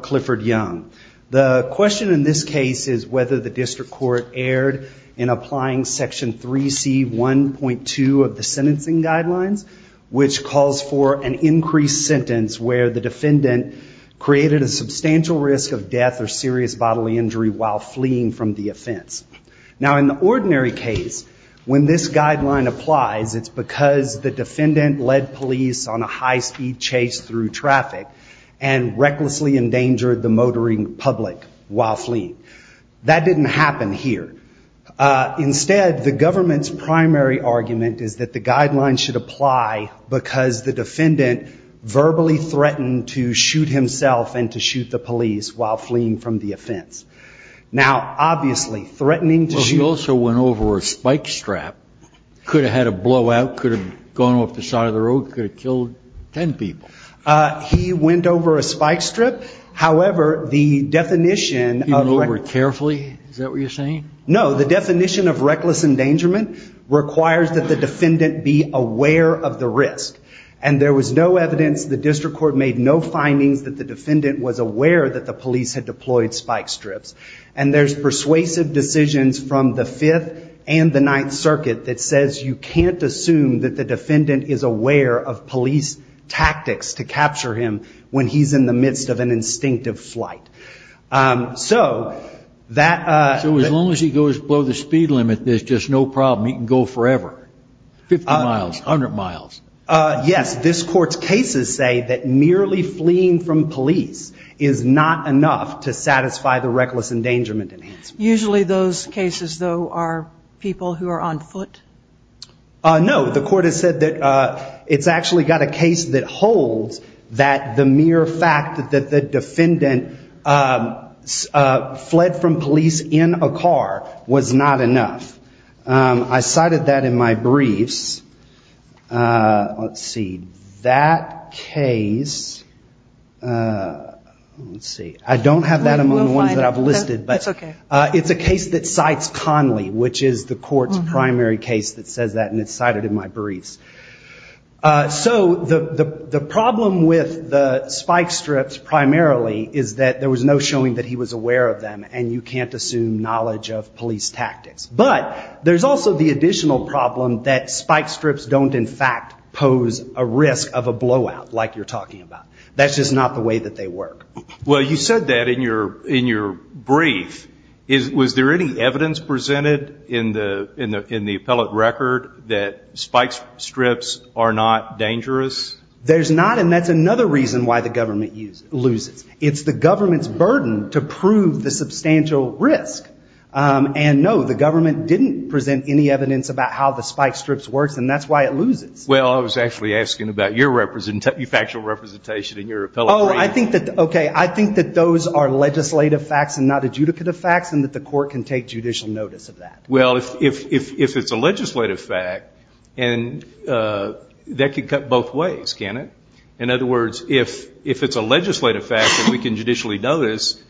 Clifford Young, the question in this case is whether the district court erred in applying section 3c 1.2 of the sentencing guidelines which calls for an increased sentence where the defendant created a substantial risk of death or serious bodily injury while fleeing from the offense. Now, in the ordinary case, when this guideline applies, it's because the defendant led police on a high-speed chase through traffic and recklessly endangered the motoring public while fleeing. That didn't happen here. Instead, the government's primary argument is that the guidelines should apply because the defendant verbally threatened to shoot himself and to shoot the police while fleeing from the offense. Now, obviously, threatening to shoot... He also went over a spike strap, could have had a blowout, could have gone off the side of the road, could have killed ten people. He went over a spike strip, however, the definition... He went over it carefully, is that what you're saying? No, the definition of reckless endangerment requires that the defendant be aware of the risk. And there was no evidence, the district court made no findings that the defendant was aware that the police had deployed spike strips. And there's persuasive decisions from the Fifth and the Ninth Circuit that says you can't assume that the defendant is aware of police tactics to capture him when he's in the midst of an instinctive flight. So, that... So as long as he goes below the speed limit, there's just no problem, he can go forever? 50 miles, 100 miles. Yes, this court's cases say that merely fleeing from police is not enough to satisfy the reckless endangerment enhancement. Usually those cases, though, are people who are on foot? No, the court has said that it's actually got a case that holds that the mere fact that the defendant fled from police in a car was not enough. I cited that in my briefs. Let's see. That case... Let's see. I don't have that among the ones that I've listed, but it's a case that cites Conley, which is the court's primary case that says that, and it's cited in my briefs. So, the problem with the spike strips primarily is that there was no showing that he was aware of them, and you can't assume knowledge of police tactics. But, there's also the additional problem that spike strips don't, in fact, pose a risk of a blowout, like you're talking about. That's just not the way that they work. Well, you said that in your brief. Was there any evidence presented in the appellate record that spike strips are not dangerous? There's not, and that's another reason why the government loses. It's the government's burden to prove the substantial risk. And, no, the government didn't present any evidence about how the spike strips works, and that's why it loses. Well, I was actually asking about your factual representation in your appellate brief. Oh, I think that those are legislative facts and not adjudicative facts, and that the court can take judicial notice of that. Well, if it's a legislative fact, that could cut both ways, can't it? In other words, if it's a legislative fact that we can judicially notice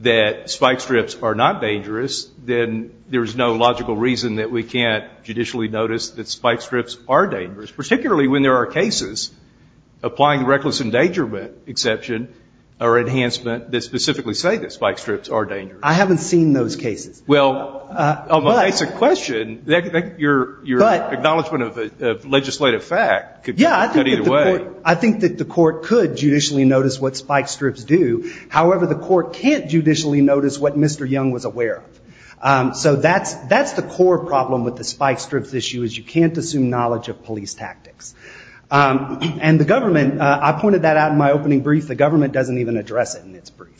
that spike strips are not dangerous, then there's no logical reason that we can't judicially notice that spike strips are dangerous, particularly when there are cases, applying the reckless endangerment exception or enhancement, that specifically say that spike strips are dangerous. I haven't seen those cases. Well, that's a question. Your acknowledgment of legislative fact could cut either way. I think that the court could judicially notice what spike strips do. However, the court can't judicially notice what Mr. Young was aware of. So that's the core problem with the spike strips issue, is you can't assume knowledge of police tactics. And the government, I pointed that out in my opening brief, the government doesn't even address it in its brief.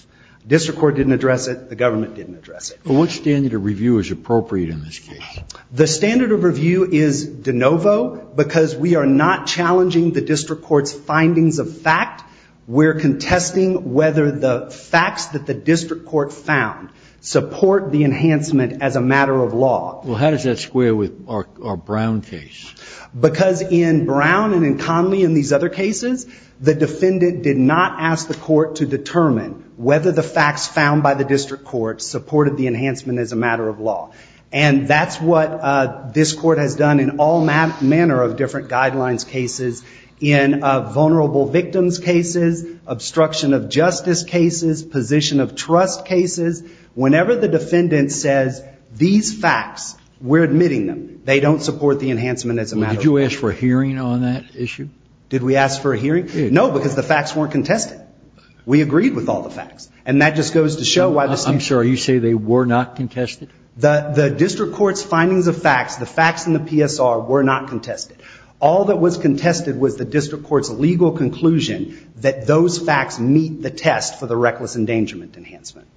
The district court didn't address it. The government didn't address it. What standard of review is appropriate in this case? The standard of review is de novo, because we are not challenging the district court's findings of fact. We're contesting whether the facts that the district court found support the enhancement as a matter of law. Well, how does that square with our Brown case? Because in Brown and in Conley and these other cases, the defendant did not ask the court to determine whether the facts found by the district court supported the enhancement as a matter of law. And that's what this court has done in all manner of different guidelines cases, in vulnerable victims cases, obstruction of justice cases, position of trust cases. Whenever the defendant says these facts, we're admitting them. They don't support the enhancement as a matter of law. Did you ask for a hearing on that issue? Did we ask for a hearing? No, because the facts weren't contested. We agreed with all the facts. And that just goes to show why this is. I'm sorry. You say they were not contested? The district court's findings of facts, the facts in the PSR, were not contested. All that was contested was the district court's legal conclusion that those facts meet the test for the reckless endangerment enhancement.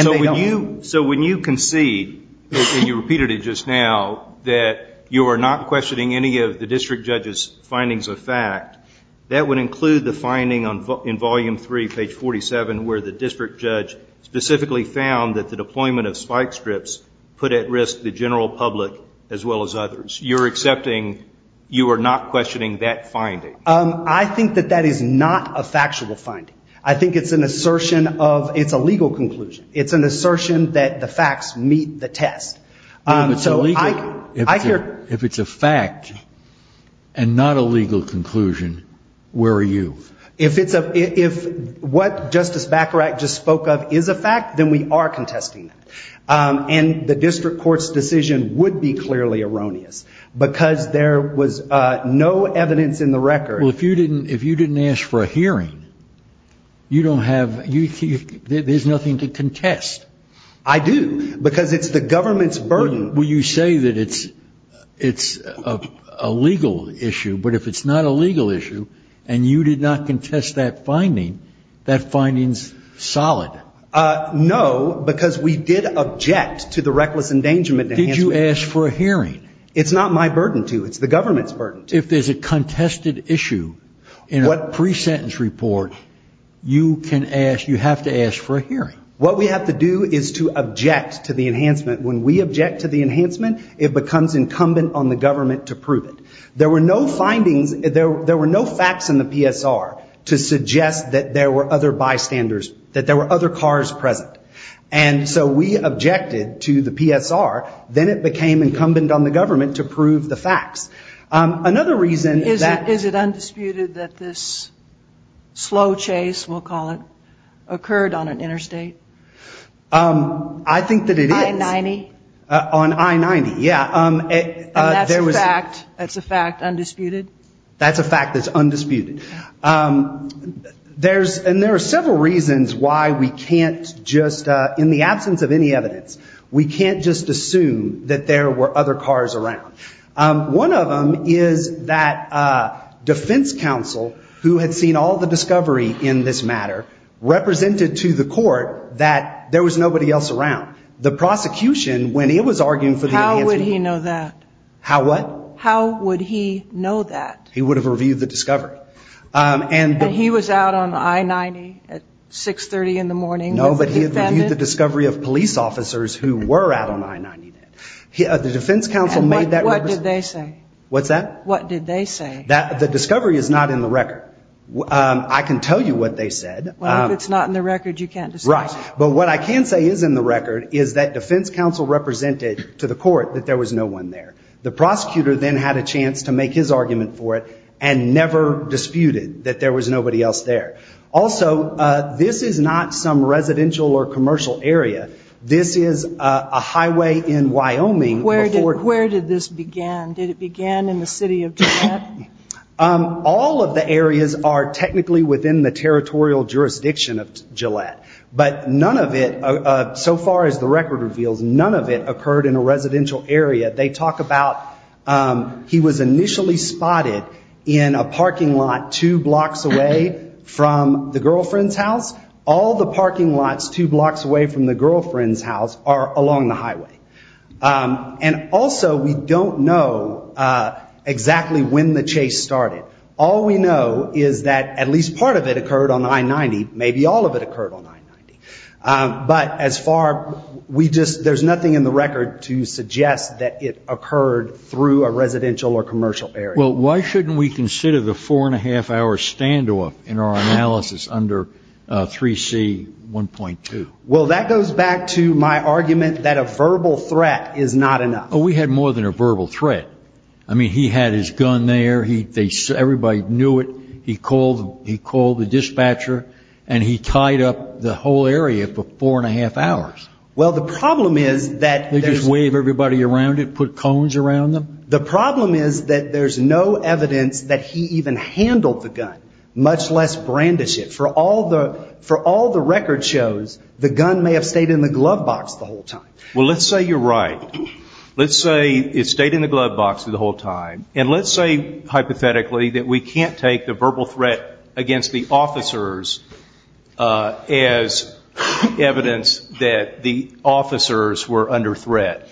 So when you concede, and you repeated it just now, that you are not questioning any of the district judge's findings of fact, that would include the finding in volume three, page 47, where the district judge specifically found that the deployment of spike strips put at risk the general public as well as others. You're accepting you are not questioning that finding? I think that that is not a factual finding. I think it's an assertion of, it's a legal conclusion. It's an assertion that the facts meet the test. If it's a legal, if it's a fact and not a legal conclusion, where are you? If it's a, if what Justice Baccarat just spoke of is a fact, then we are contesting that. And the district court's decision would be clearly erroneous, because there was no evidence in the record. Well, if you didn't, if you didn't ask for a hearing, you don't have, there's nothing to contest. I do, because it's the government's burden. Well, you say that it's a legal issue, but if it's not a legal issue, and you did not contest that finding, that finding's solid. No, because we did object to the reckless endangerment enhancement. Did you ask for a hearing? It's not my burden to, it's the government's burden to. If there's a contested issue in a pre-sentence report, you can ask, you have to ask for a hearing. What we have to do is to object to the enhancement. When we object to the enhancement, it becomes incumbent on the government to prove it. There were no findings, there were no facts in the PSR to suggest that there were other bystanders, that there were other cars present. And so we objected to the PSR, then it became incumbent on the government to prove the facts. Another reason that. Is it undisputed that this slow chase, we'll call it, occurred on an interstate? I think that it is. I-90? On I-90, yeah. And that's a fact, that's a fact, undisputed? That's a fact that's undisputed. And there are several reasons why we can't just, in the absence of any evidence, we can't just assume that there were other cars around. One of them is that defense counsel, who had seen all the discovery in this matter, represented to the court that there was nobody else around. The prosecution, when it was arguing for the enhancement. How would he know that? How what? How would he know that? He would have reviewed the discovery. And he was out on I-90 at 6.30 in the morning? No, but he had reviewed the discovery of police officers who were out on I-90. And what did they say? What's that? What did they say? The discovery is not in the record. I can tell you what they said. Well, if it's not in the record, you can't disclose it. Right. But what I can say is in the record is that defense counsel represented to the court that there was no one there. The prosecutor then had a chance to make his argument for it and never disputed that there was nobody else there. Also, this is not some residential or commercial area. This is a highway in Wyoming. Where did this begin? Did it begin in the city of Gillette? All of the areas are technically within the territorial jurisdiction of Gillette. But none of it, so far as the record reveals, none of it occurred in a residential area. They talk about he was initially spotted in a parking lot two blocks away from the girlfriend's house. All the parking lots two blocks away from the girlfriend's house are along the highway. And also, we don't know exactly when the chase started. All we know is that at least part of it occurred on I-90. Maybe all of it occurred on I-90. But as far, we just, there's nothing in the record to suggest that it occurred through a residential or commercial area. Well, why shouldn't we consider the four and a half hour standoff in our analysis under 3C1.2? Well, that goes back to my argument that a verbal threat is not enough. Oh, we had more than a verbal threat. I mean, he had his gun there. Everybody knew it. He called the dispatcher and he tied up the whole area for four and a half hours. Well, the problem is that there's... They just wave everybody around it, put cones around them? The problem is that there's no evidence that he even handled the gun, much less brandished it. For all the record shows, the gun may have stayed in the glove box the whole time. Well, let's say you're right. Let's say it stayed in the glove box the whole time. And let's say, hypothetically, that we can't take the verbal threat against the officers as evidence that the officers were under threat.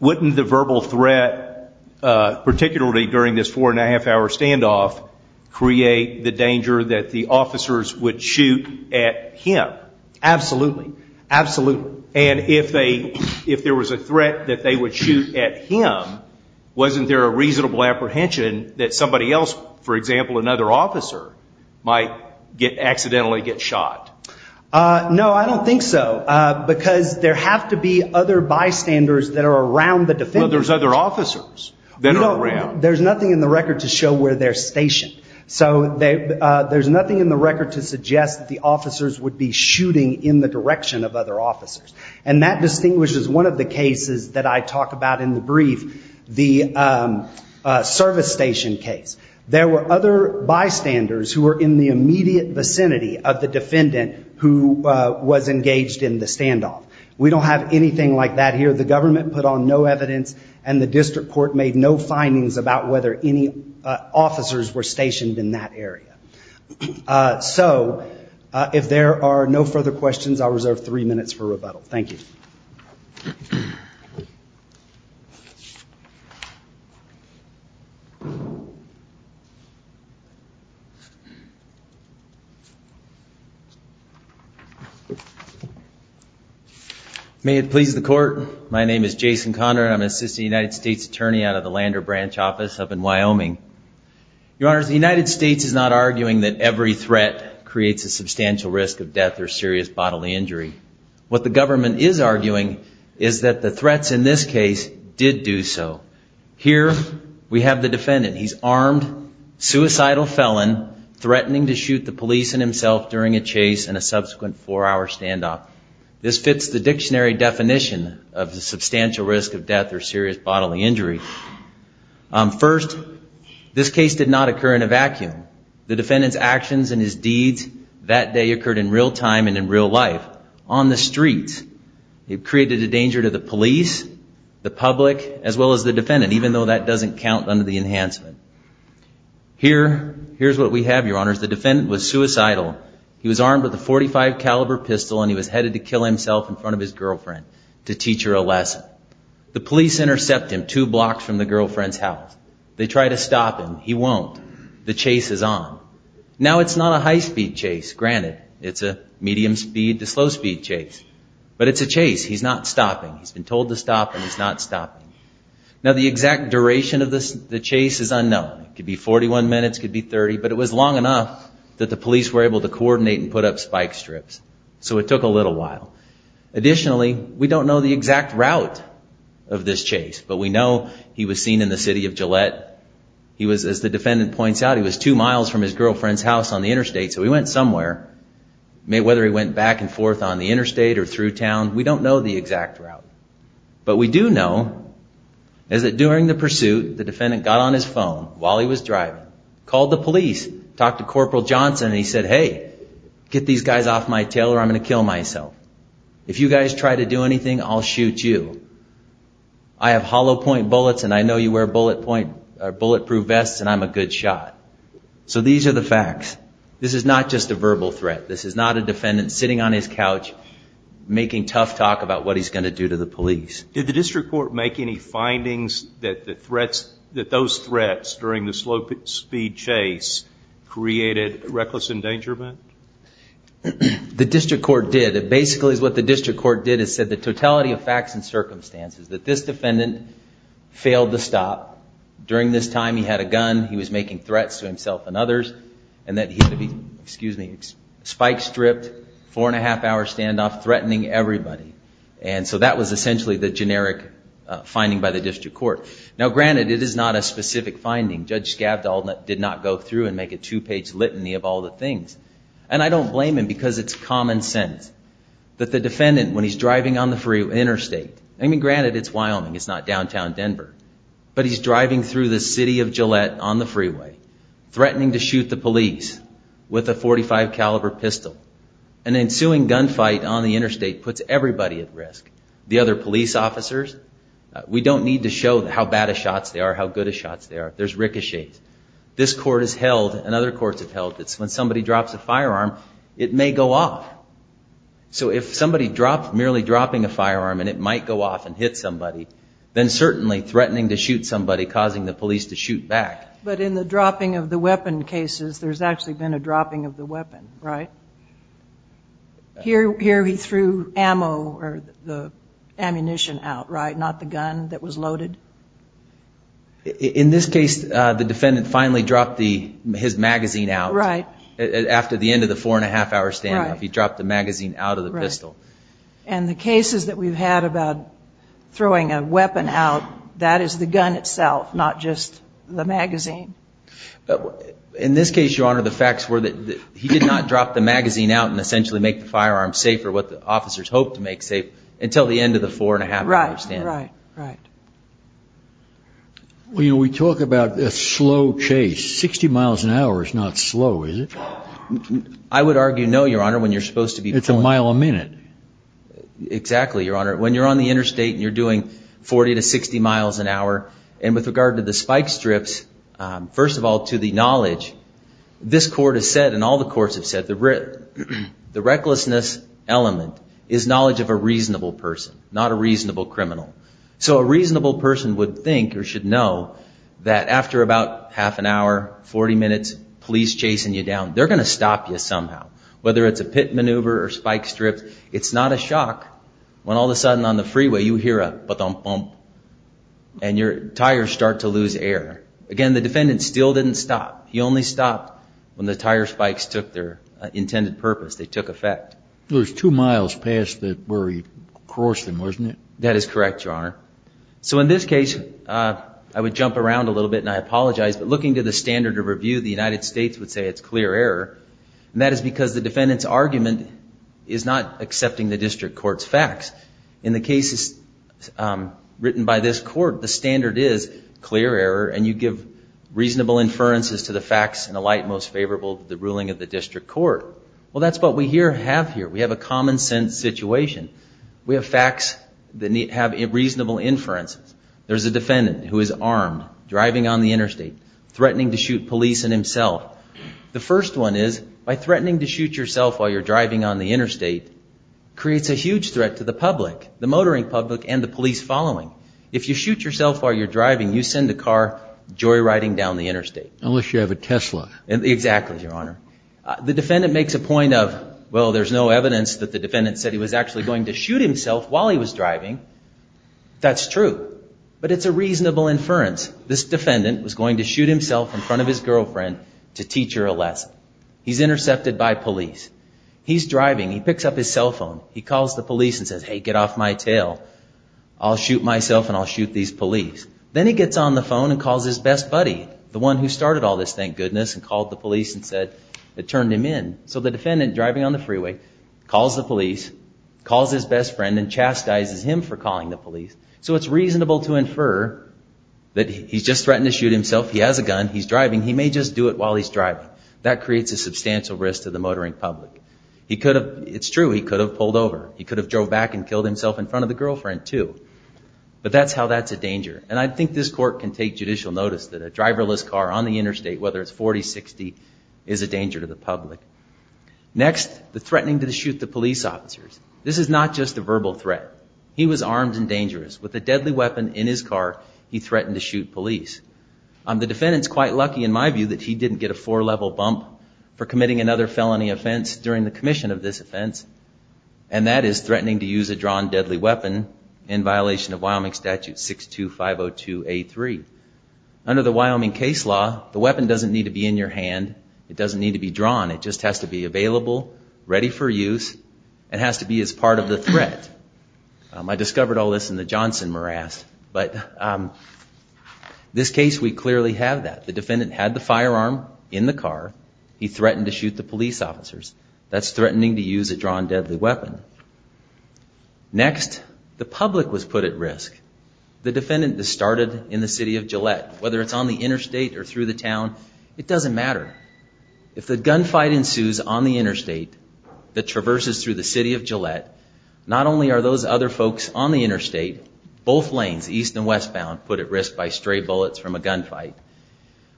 Wouldn't the verbal threat, particularly during this four and a half hour standoff, create the danger that the officers would shoot at him? Absolutely. Absolutely. And if there was a threat that they would shoot at him, wasn't there a reasonable apprehension that somebody else, for example, another officer, might accidentally get shot? No, I don't think so, because there have to be other bystanders that are around the defendant. Well, there's other officers that are around. No, there's nothing in the record to show where they're stationed. So there's nothing in the record to suggest that the officers would be shooting in the direction of other officers. And that distinguishes one of the cases that I talk about in the brief, the service station case. There were other bystanders who were in the immediate vicinity of the defendant who was engaged in the standoff. We don't have anything like that here. The government put on no evidence, and the district court made no findings about whether any officers were stationed in that area. So if there are no further questions, I'll reserve three minutes for rebuttal. Thank you. May it please the court. My name is Jason Conrad. I'm an assistant United States attorney out of the Lander branch office up in Wyoming. Your Honor, the United States is not arguing that every threat creates a substantial risk of death or serious bodily injury. What the government is arguing is that the threats in this case did do so. He's armed, he's armed. Suicidal felon threatening to shoot the police and himself during a chase and a subsequent four-hour standoff. This fits the dictionary definition of the substantial risk of death or serious bodily injury. First, this case did not occur in a vacuum. The defendant's actions and his deeds that day occurred in real time and in real life on the streets. It created a danger to the police, the public, as well as the defendant, even though that doesn't count under the enhancement. Here's what we have, Your Honor. The defendant was suicidal. He was armed with a .45 caliber pistol and he was headed to kill himself in front of his girlfriend to teach her a lesson. The police intercept him two blocks from the girlfriend's house. They try to stop him. He won't. The chase is on. Now, it's not a high-speed chase. Granted, it's a medium-speed to slow-speed chase, but it's a chase. He's not stopping. He's been told to stop and he's not stopping. Now, the exact duration of the chase is unknown. It could be 41 minutes, it could be 30, but it was long enough that the police were able to coordinate and put up spike strips. So it took a little while. Additionally, we don't know the exact route of this chase, but we know he was seen in the city of Gillette. As the defendant points out, he was two miles from his girlfriend's house on the interstate, so he went somewhere. Whether he went back and forth on the interstate or through town, we don't know the exact route. But we do know is that during the pursuit, the defendant got on his phone while he was driving, called the police, talked to Corporal Johnson, and he said, hey, get these guys off my tail or I'm going to kill myself. If you guys try to do anything, I'll shoot you. I have hollow-point bullets and I know you wear bullet-proof vests and I'm a good shot. So these are the facts. This is not just a verbal threat. This is not a defendant sitting on his couch making tough talk about what he's going to do to the police. Did the district court make any findings that those threats during the slow-speed chase created reckless endangerment? The district court did. Basically, what the district court did is said the totality of facts and circumstances, that this defendant failed to stop. During this time, he had a gun. He was making threats to himself and others. And that he had a spike-stripped, four-and-a-half-hour standoff threatening everybody. And so that was essentially the generic finding by the district court. Now, granted, it is not a specific finding. Judge Skavdal did not go through and make a two-page litany of all the things. And I don't blame him because it's common sense that the defendant, when he's driving on the freeway interstate, I mean, granted, it's Wyoming. It's not downtown Denver. But he's driving through the city of Gillette on the freeway, threatening to shoot the police with a .45-caliber pistol. An ensuing gunfight on the interstate puts everybody at risk. The other police officers, we don't need to show how bad of shots they are, how good of shots they are. There's ricochets. This court has held, and other courts have held, that when somebody drops a firearm, it may go off. So if somebody dropped, merely dropping a firearm, and it might go off and hit somebody, then certainly threatening to shoot somebody, causing the police to shoot back. But in the dropping of the weapon cases, there's actually been a dropping of the weapon, right? Here he threw ammo or the ammunition out, right, not the gun that was loaded? In this case, the defendant finally dropped his magazine out. After the end of the four-and-a-half-hour standoff, he dropped the magazine out of the pistol. And the cases that we've had about throwing a weapon out, that is the gun itself, not just the magazine. In this case, Your Honor, the facts were that he did not drop the magazine out and essentially make the firearm safe, or what the officers hoped to make safe, until the end of the four-and-a-half-hour standoff. Right, right, right. We talk about a slow chase. Sixty miles an hour is not slow, is it? Well, I would argue no, Your Honor, when you're supposed to be pulling. It's a mile a minute. Exactly, Your Honor. When you're on the interstate and you're doing 40 to 60 miles an hour, and with regard to the spike strips, first of all, to the knowledge, this court has said, and all the courts have said, the recklessness element is knowledge of a reasonable person, not a reasonable criminal. So a reasonable person would think or should know that after about half an hour, 40 minutes, police chasing you down, they're going to stop you somehow. Whether it's a pit maneuver or spike strips, it's not a shock when all of a sudden on the freeway you hear a ba-dum-bum, and your tires start to lose air. Again, the defendant still didn't stop. He only stopped when the tire spikes took their intended purpose, they took effect. It was two miles past where he crossed him, wasn't it? That is correct, Your Honor. So in this case, I would jump around a little bit, and I apologize, but looking to the standard of review, the United States would say it's clear error, and that is because the defendant's argument is not accepting the district court's facts. In the cases written by this court, the standard is clear error, and you give reasonable inferences to the facts and alight most favorable to the ruling of the district court. Well, that's what we have here. We have a common-sense situation. We have facts that have reasonable inferences. There's a defendant who is armed, driving on the interstate, threatening to shoot police and himself. The first one is, by threatening to shoot yourself while you're driving on the interstate, creates a huge threat to the public, the motoring public, and the police following. If you shoot yourself while you're driving, you send a car joyriding down the interstate. Unless you have a Tesla. Exactly, Your Honor. The defendant makes a point of, well, there's no evidence that the defendant said he was actually going to shoot himself while he was driving. That's true. But it's a reasonable inference. This defendant was going to shoot himself in front of his girlfriend to teach her a lesson. He's intercepted by police. He's driving. He picks up his cell phone. He calls the police and says, hey, get off my tail. I'll shoot myself and I'll shoot these police. Then he gets on the phone and calls his best buddy, the one who started all this, thank goodness, and called the police and said it turned him in. So the defendant, driving on the freeway, calls the police, calls his best friend, and chastises him for calling the police. So it's reasonable to infer that he's just threatened to shoot himself. He has a gun. He's driving. He may just do it while he's driving. That creates a substantial risk to the motoring public. It's true, he could have pulled over. He could have drove back and killed himself in front of the girlfriend, too. But that's how that's a danger. And I think this court can take judicial notice that a driverless car on the interstate, whether it's 40, 60, is a danger to the public. Next, the threatening to shoot the police officers. This is not just a verbal threat. He was armed and dangerous. With a deadly weapon in his car, he threatened to shoot police. The defendant's quite lucky, in my view, that he didn't get a four-level bump for committing another felony offense during the commission of this offense, and that is threatening to use a drawn deadly weapon in violation of Wyoming Statute 62502A3. Under the Wyoming case law, the weapon doesn't need to be in your hand. It doesn't need to be drawn. It has to be available, ready for use, and has to be as part of the threat. I discovered all this in the Johnson morass, but this case, we clearly have that. The defendant had the firearm in the car. He threatened to shoot the police officers. That's threatening to use a drawn deadly weapon. Next, the public was put at risk. The defendant started in the city of Gillette. Whether it's on the interstate or through the town, it doesn't matter. If the gunfight ensues on the interstate that traverses through the city of Gillette, not only are those other folks on the interstate, both lanes, east and westbound, put at risk by stray bullets from a gunfight,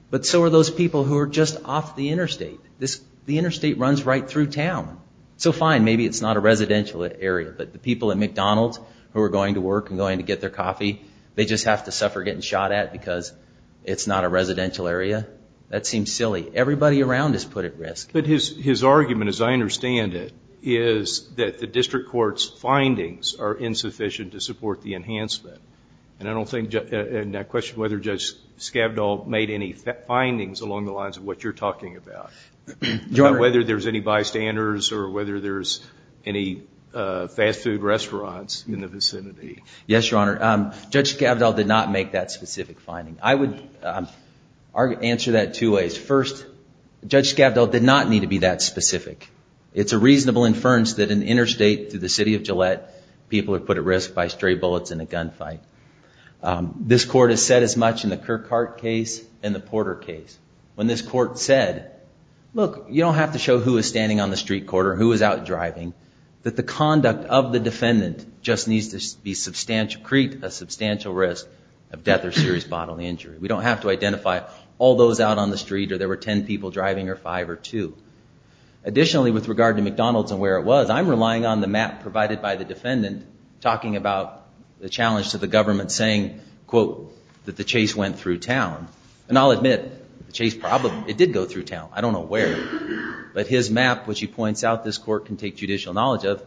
but so are those people who are just off the interstate. The interstate runs right through town. So fine, maybe it's not a residential area, but the people at McDonald's who are going to work and going to get their coffee, they just have to suffer getting shot at because it's not a residential area. That seems silly. Everybody around is put at risk. But his argument, as I understand it, is that the district court's findings are insufficient to support the enhancement. And I question whether Judge Skavdal made any findings along the lines of what you're talking about. Whether there's any bystanders or whether there's any fast food restaurants in the vicinity. Yes, Your Honor. Judge Skavdal did not make that specific finding. I would answer that two ways. First, Judge Skavdal did not need to be that specific. It's a reasonable inference that an interstate through the city of Gillette, people are put at risk by stray bullets in a gunfight. This court has said as much in the Kirkhart case and the Porter case. When this court said, look, you don't have to show who is standing on the street corner, who is out driving, that the conduct of the defendant just needs to create a substantial risk of death or serious bodily injury. We don't have to identify all those out on the street or there were 10 people driving or five or two. Additionally, with regard to McDonald's and where it was, I'm relying on the map provided by the defendant talking about the challenge to the government saying, quote, that the chase went through town. And I'll admit, the chase probably, it did go through town. I don't know where. But his map, which he points out this court can take judicial knowledge of,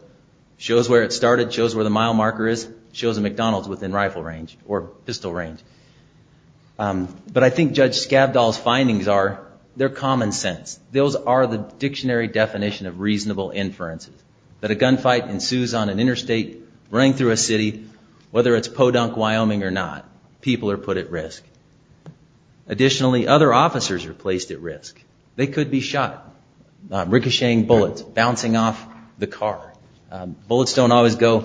shows where it started, shows where the mile marker is, shows a McDonald's within rifle range or pistol range. But I think Judge Skavdal's findings are, they're common sense. Those are the dictionary definition of reasonable inferences. That a gunfight ensues on an interstate running through a city, whether it's Podunk, Wyoming or not, people are put at risk. Additionally, other officers are placed at risk. They could be shot, ricocheting bullets, bouncing off the car. They don't know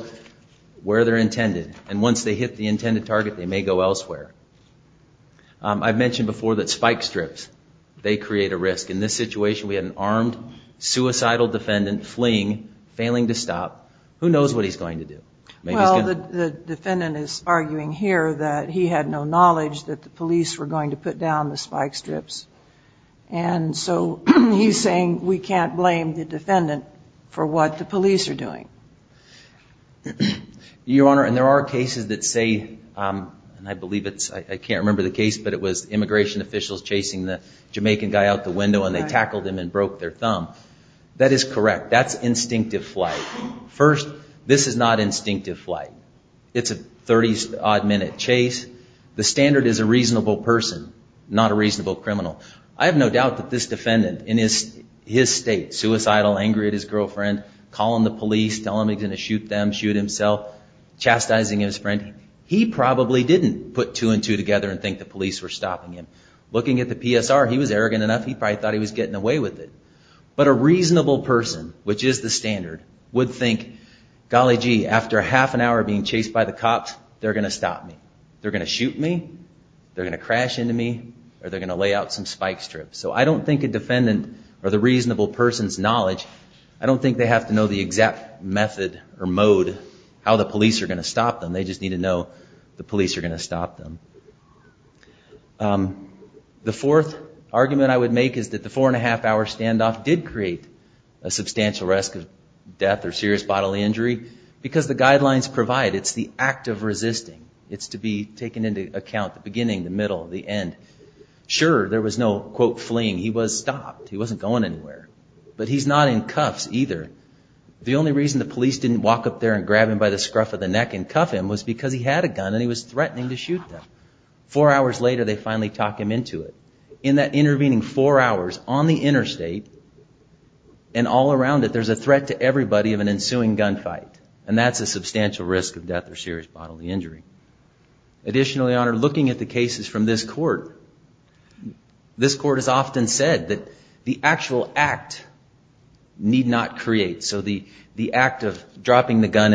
where they're intended. And once they hit the intended target, they may go elsewhere. I've mentioned before that spike strips, they create a risk. In this situation, we had an armed, suicidal defendant fleeing, failing to stop. Who knows what he's going to do? Well, the defendant is arguing here that he had no knowledge that the police were going to put down the spike strips. And so he's saying we can't blame the defendant for what the police are doing. Your Honor, and there are cases that say, and I believe it's, I can't remember the case, but it was immigration officials chasing the Jamaican guy out the window and they tackled him and broke their thumb. That is correct. That's instinctive flight. First, this is not instinctive flight. It's a 30-odd minute chase. The standard is a reasonable person, not a reasonable criminal. I have no doubt that this defendant in his state, suicidal, angry at his girlfriend, angry at himself, chastising his friend, he probably didn't put two and two together and think the police were stopping him. Looking at the PSR, he was arrogant enough. He probably thought he was getting away with it. But a reasonable person, which is the standard, would think, golly gee, after a half an hour being chased by the cops, they're going to stop me. They're going to shoot me. They're going to crash into me or they're going to lay out some spike strips. So I don't think a defendant needs to know how the police are going to stop them. They just need to know the police are going to stop them. The fourth argument I would make is that the four and a half hour standoff did create a substantial risk of death or serious bodily injury because the guidelines provide it's the act of resisting. It's to be taken into account the beginning, the middle, the end. Sure, there was no, quote, fleeing. He was stopped. He wasn't going anywhere. grab him by the scruff of the neck and cuff him was because he had a gun and he was threatening to shoot them. Four hours later, they finally talk him into it. In that intervening four hours on the interstate and all around it, there's a threat to everybody of an ensuing gunfight. And that's a substantial risk of death or serious bodily injury. Additionally, Your Honor, looking at the cases from this court, this court has often said this is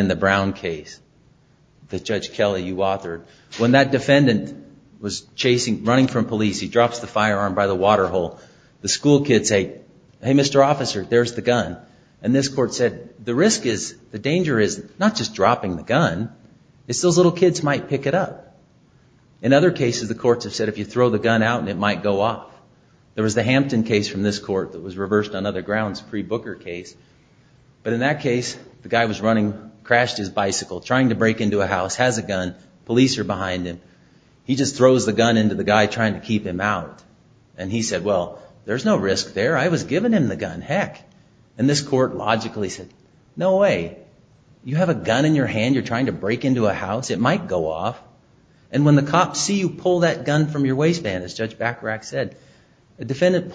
a Brown case that Judge Kelly, you authored. When that defendant was chasing, running from police, he drops the firearm by the water hole. The school kids say, hey, Mr. Officer, there's the gun. And this court said, the risk is, the danger is not just dropping the gun, it's those little kids might pick it up. In other cases, the courts have said if you throw the gun out and it might go off. There was the Hampton case where a guy was on a bicycle trying to break into a house, has a gun, police are behind him. He just throws the gun into the guy trying to keep him out. And he said, well, there's no risk there, I was giving him the gun, heck. And this court logically said, no way, you have a gun in your hand, you're trying to break into a house, it might go off. And when the cops see you pull that gun from your waistband, as Judge Bacharach said, in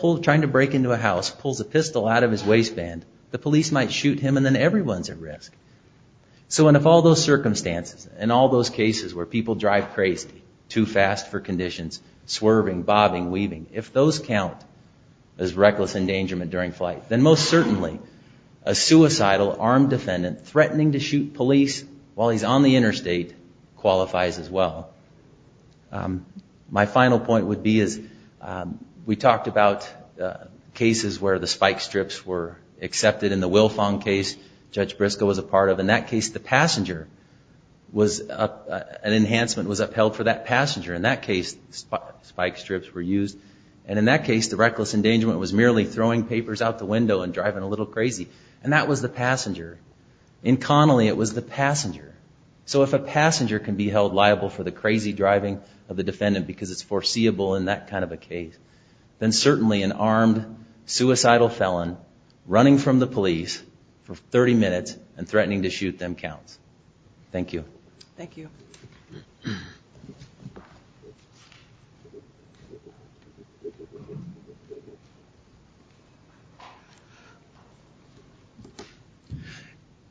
all those circumstances, in all those cases where people drive crazy, too fast for conditions, swerving, bobbing, weaving, if those count as reckless endangerment during flight, then most certainly, a suicidal armed defendant threatening to shoot police while he's on the interstate qualifies as well. My final point would be we talked about cases where the spike strips for a passenger, an enhancement was upheld for that passenger. In that case, spike strips were used. And in that case, the reckless endangerment was merely throwing papers out the window and driving a little crazy. And that was the passenger. In Connolly, it was the passenger. So if a passenger can be held liable for the crazy driving of the defendant because it's foreseeable in that kind of a case, then certainly an armed suicidal felon running from the police for 30 minutes and threatening to shoot them counts. Thank you. Thank you.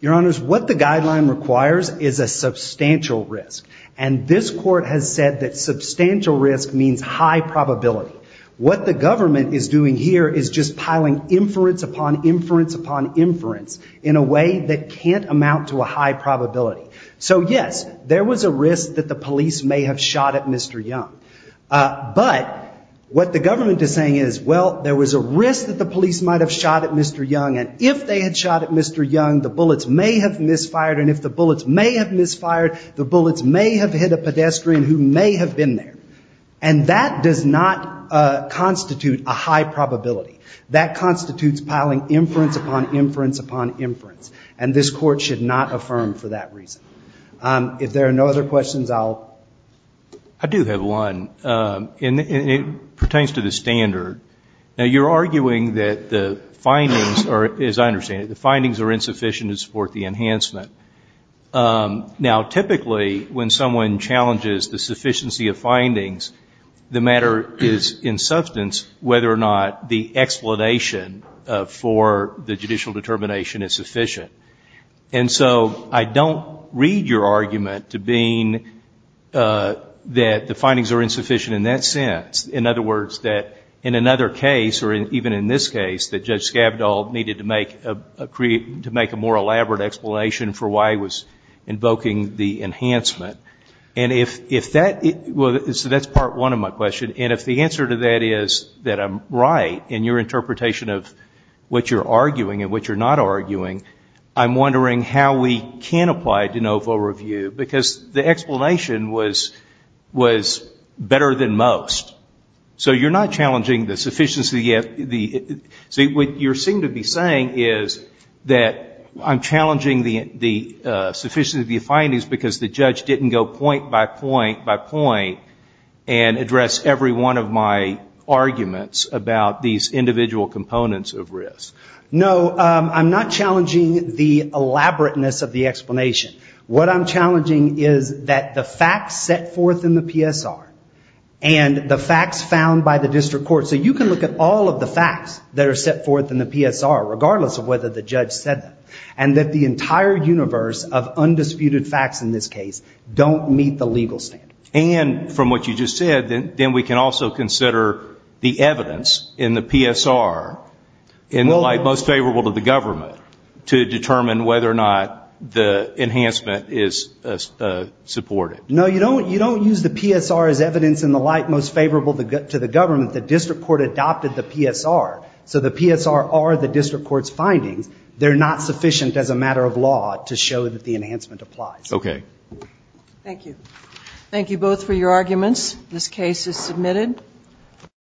Your Honors, what the guideline requires is a substantial risk. And this Court has said that substantial risk means high probability. What the government is doing here is just piling inference upon inference upon inference in a way that can't amount to a high probability. So yes, there was a risk that the police may have shot at Mr. Young. But what the government is saying is, well, there was a risk that the police might have shot at Mr. Young. And if they had shot at Mr. Young, the bullets may have misfired. And if the bullets may have misfired, the bullets may have hit a pedestrian who may have been there. And that does not constitute a high probability. That constitutes piling inference upon inference upon inference. And this Court should not affirm for that reason. If there are no other questions, I'll... I do have one. And it pertains to the standard. Now, you're arguing that the findings are, as I understand it, the findings are insufficient to support the enhancement. Now, typically, when someone challenges the sufficiency of findings, the matter is, in substance, whether or not the explanation for the judicial determination is sufficient. And so, I don't read your argument to being that the findings are insufficient in that sense. In other words, that in another case, or even in this case, that Judge Skavdal needed to make a more elaborate explanation for why he was invoking the enhancement. And if that... So, that's part one of my question. And if the answer to that is that I'm right in your interpretation of what you're arguing and what you're not arguing, I'm wondering how we can apply de novo review. Because the explanation was better than most. So, you're not challenging the sufficiency of... See, what you seem to be saying is that I'm challenging the sufficiency of the findings because the judge didn't go point by point by point and address every one of my arguments about these individual components of risk. No, I'm not challenging the elaborateness of the explanation. What I'm challenging is that the facts set forth in the PSR and the facts found by the district court. So, you can look at all of the facts that are set forth in the PSR, regardless of whether the findings don't meet the legal standard. And from what you just said, then we can also consider the evidence in the PSR in the light most favorable to the government to determine whether or not the enhancement is supported. No, you don't use the PSR as evidence in the light most favorable to the government. The district court adopted the PSR, so the PSR and the PSR are the district court's findings. They're not sufficient as a matter of law to show that the enhancement applies. Okay. Thank you. Thank you both for your arguments. This case is submitted.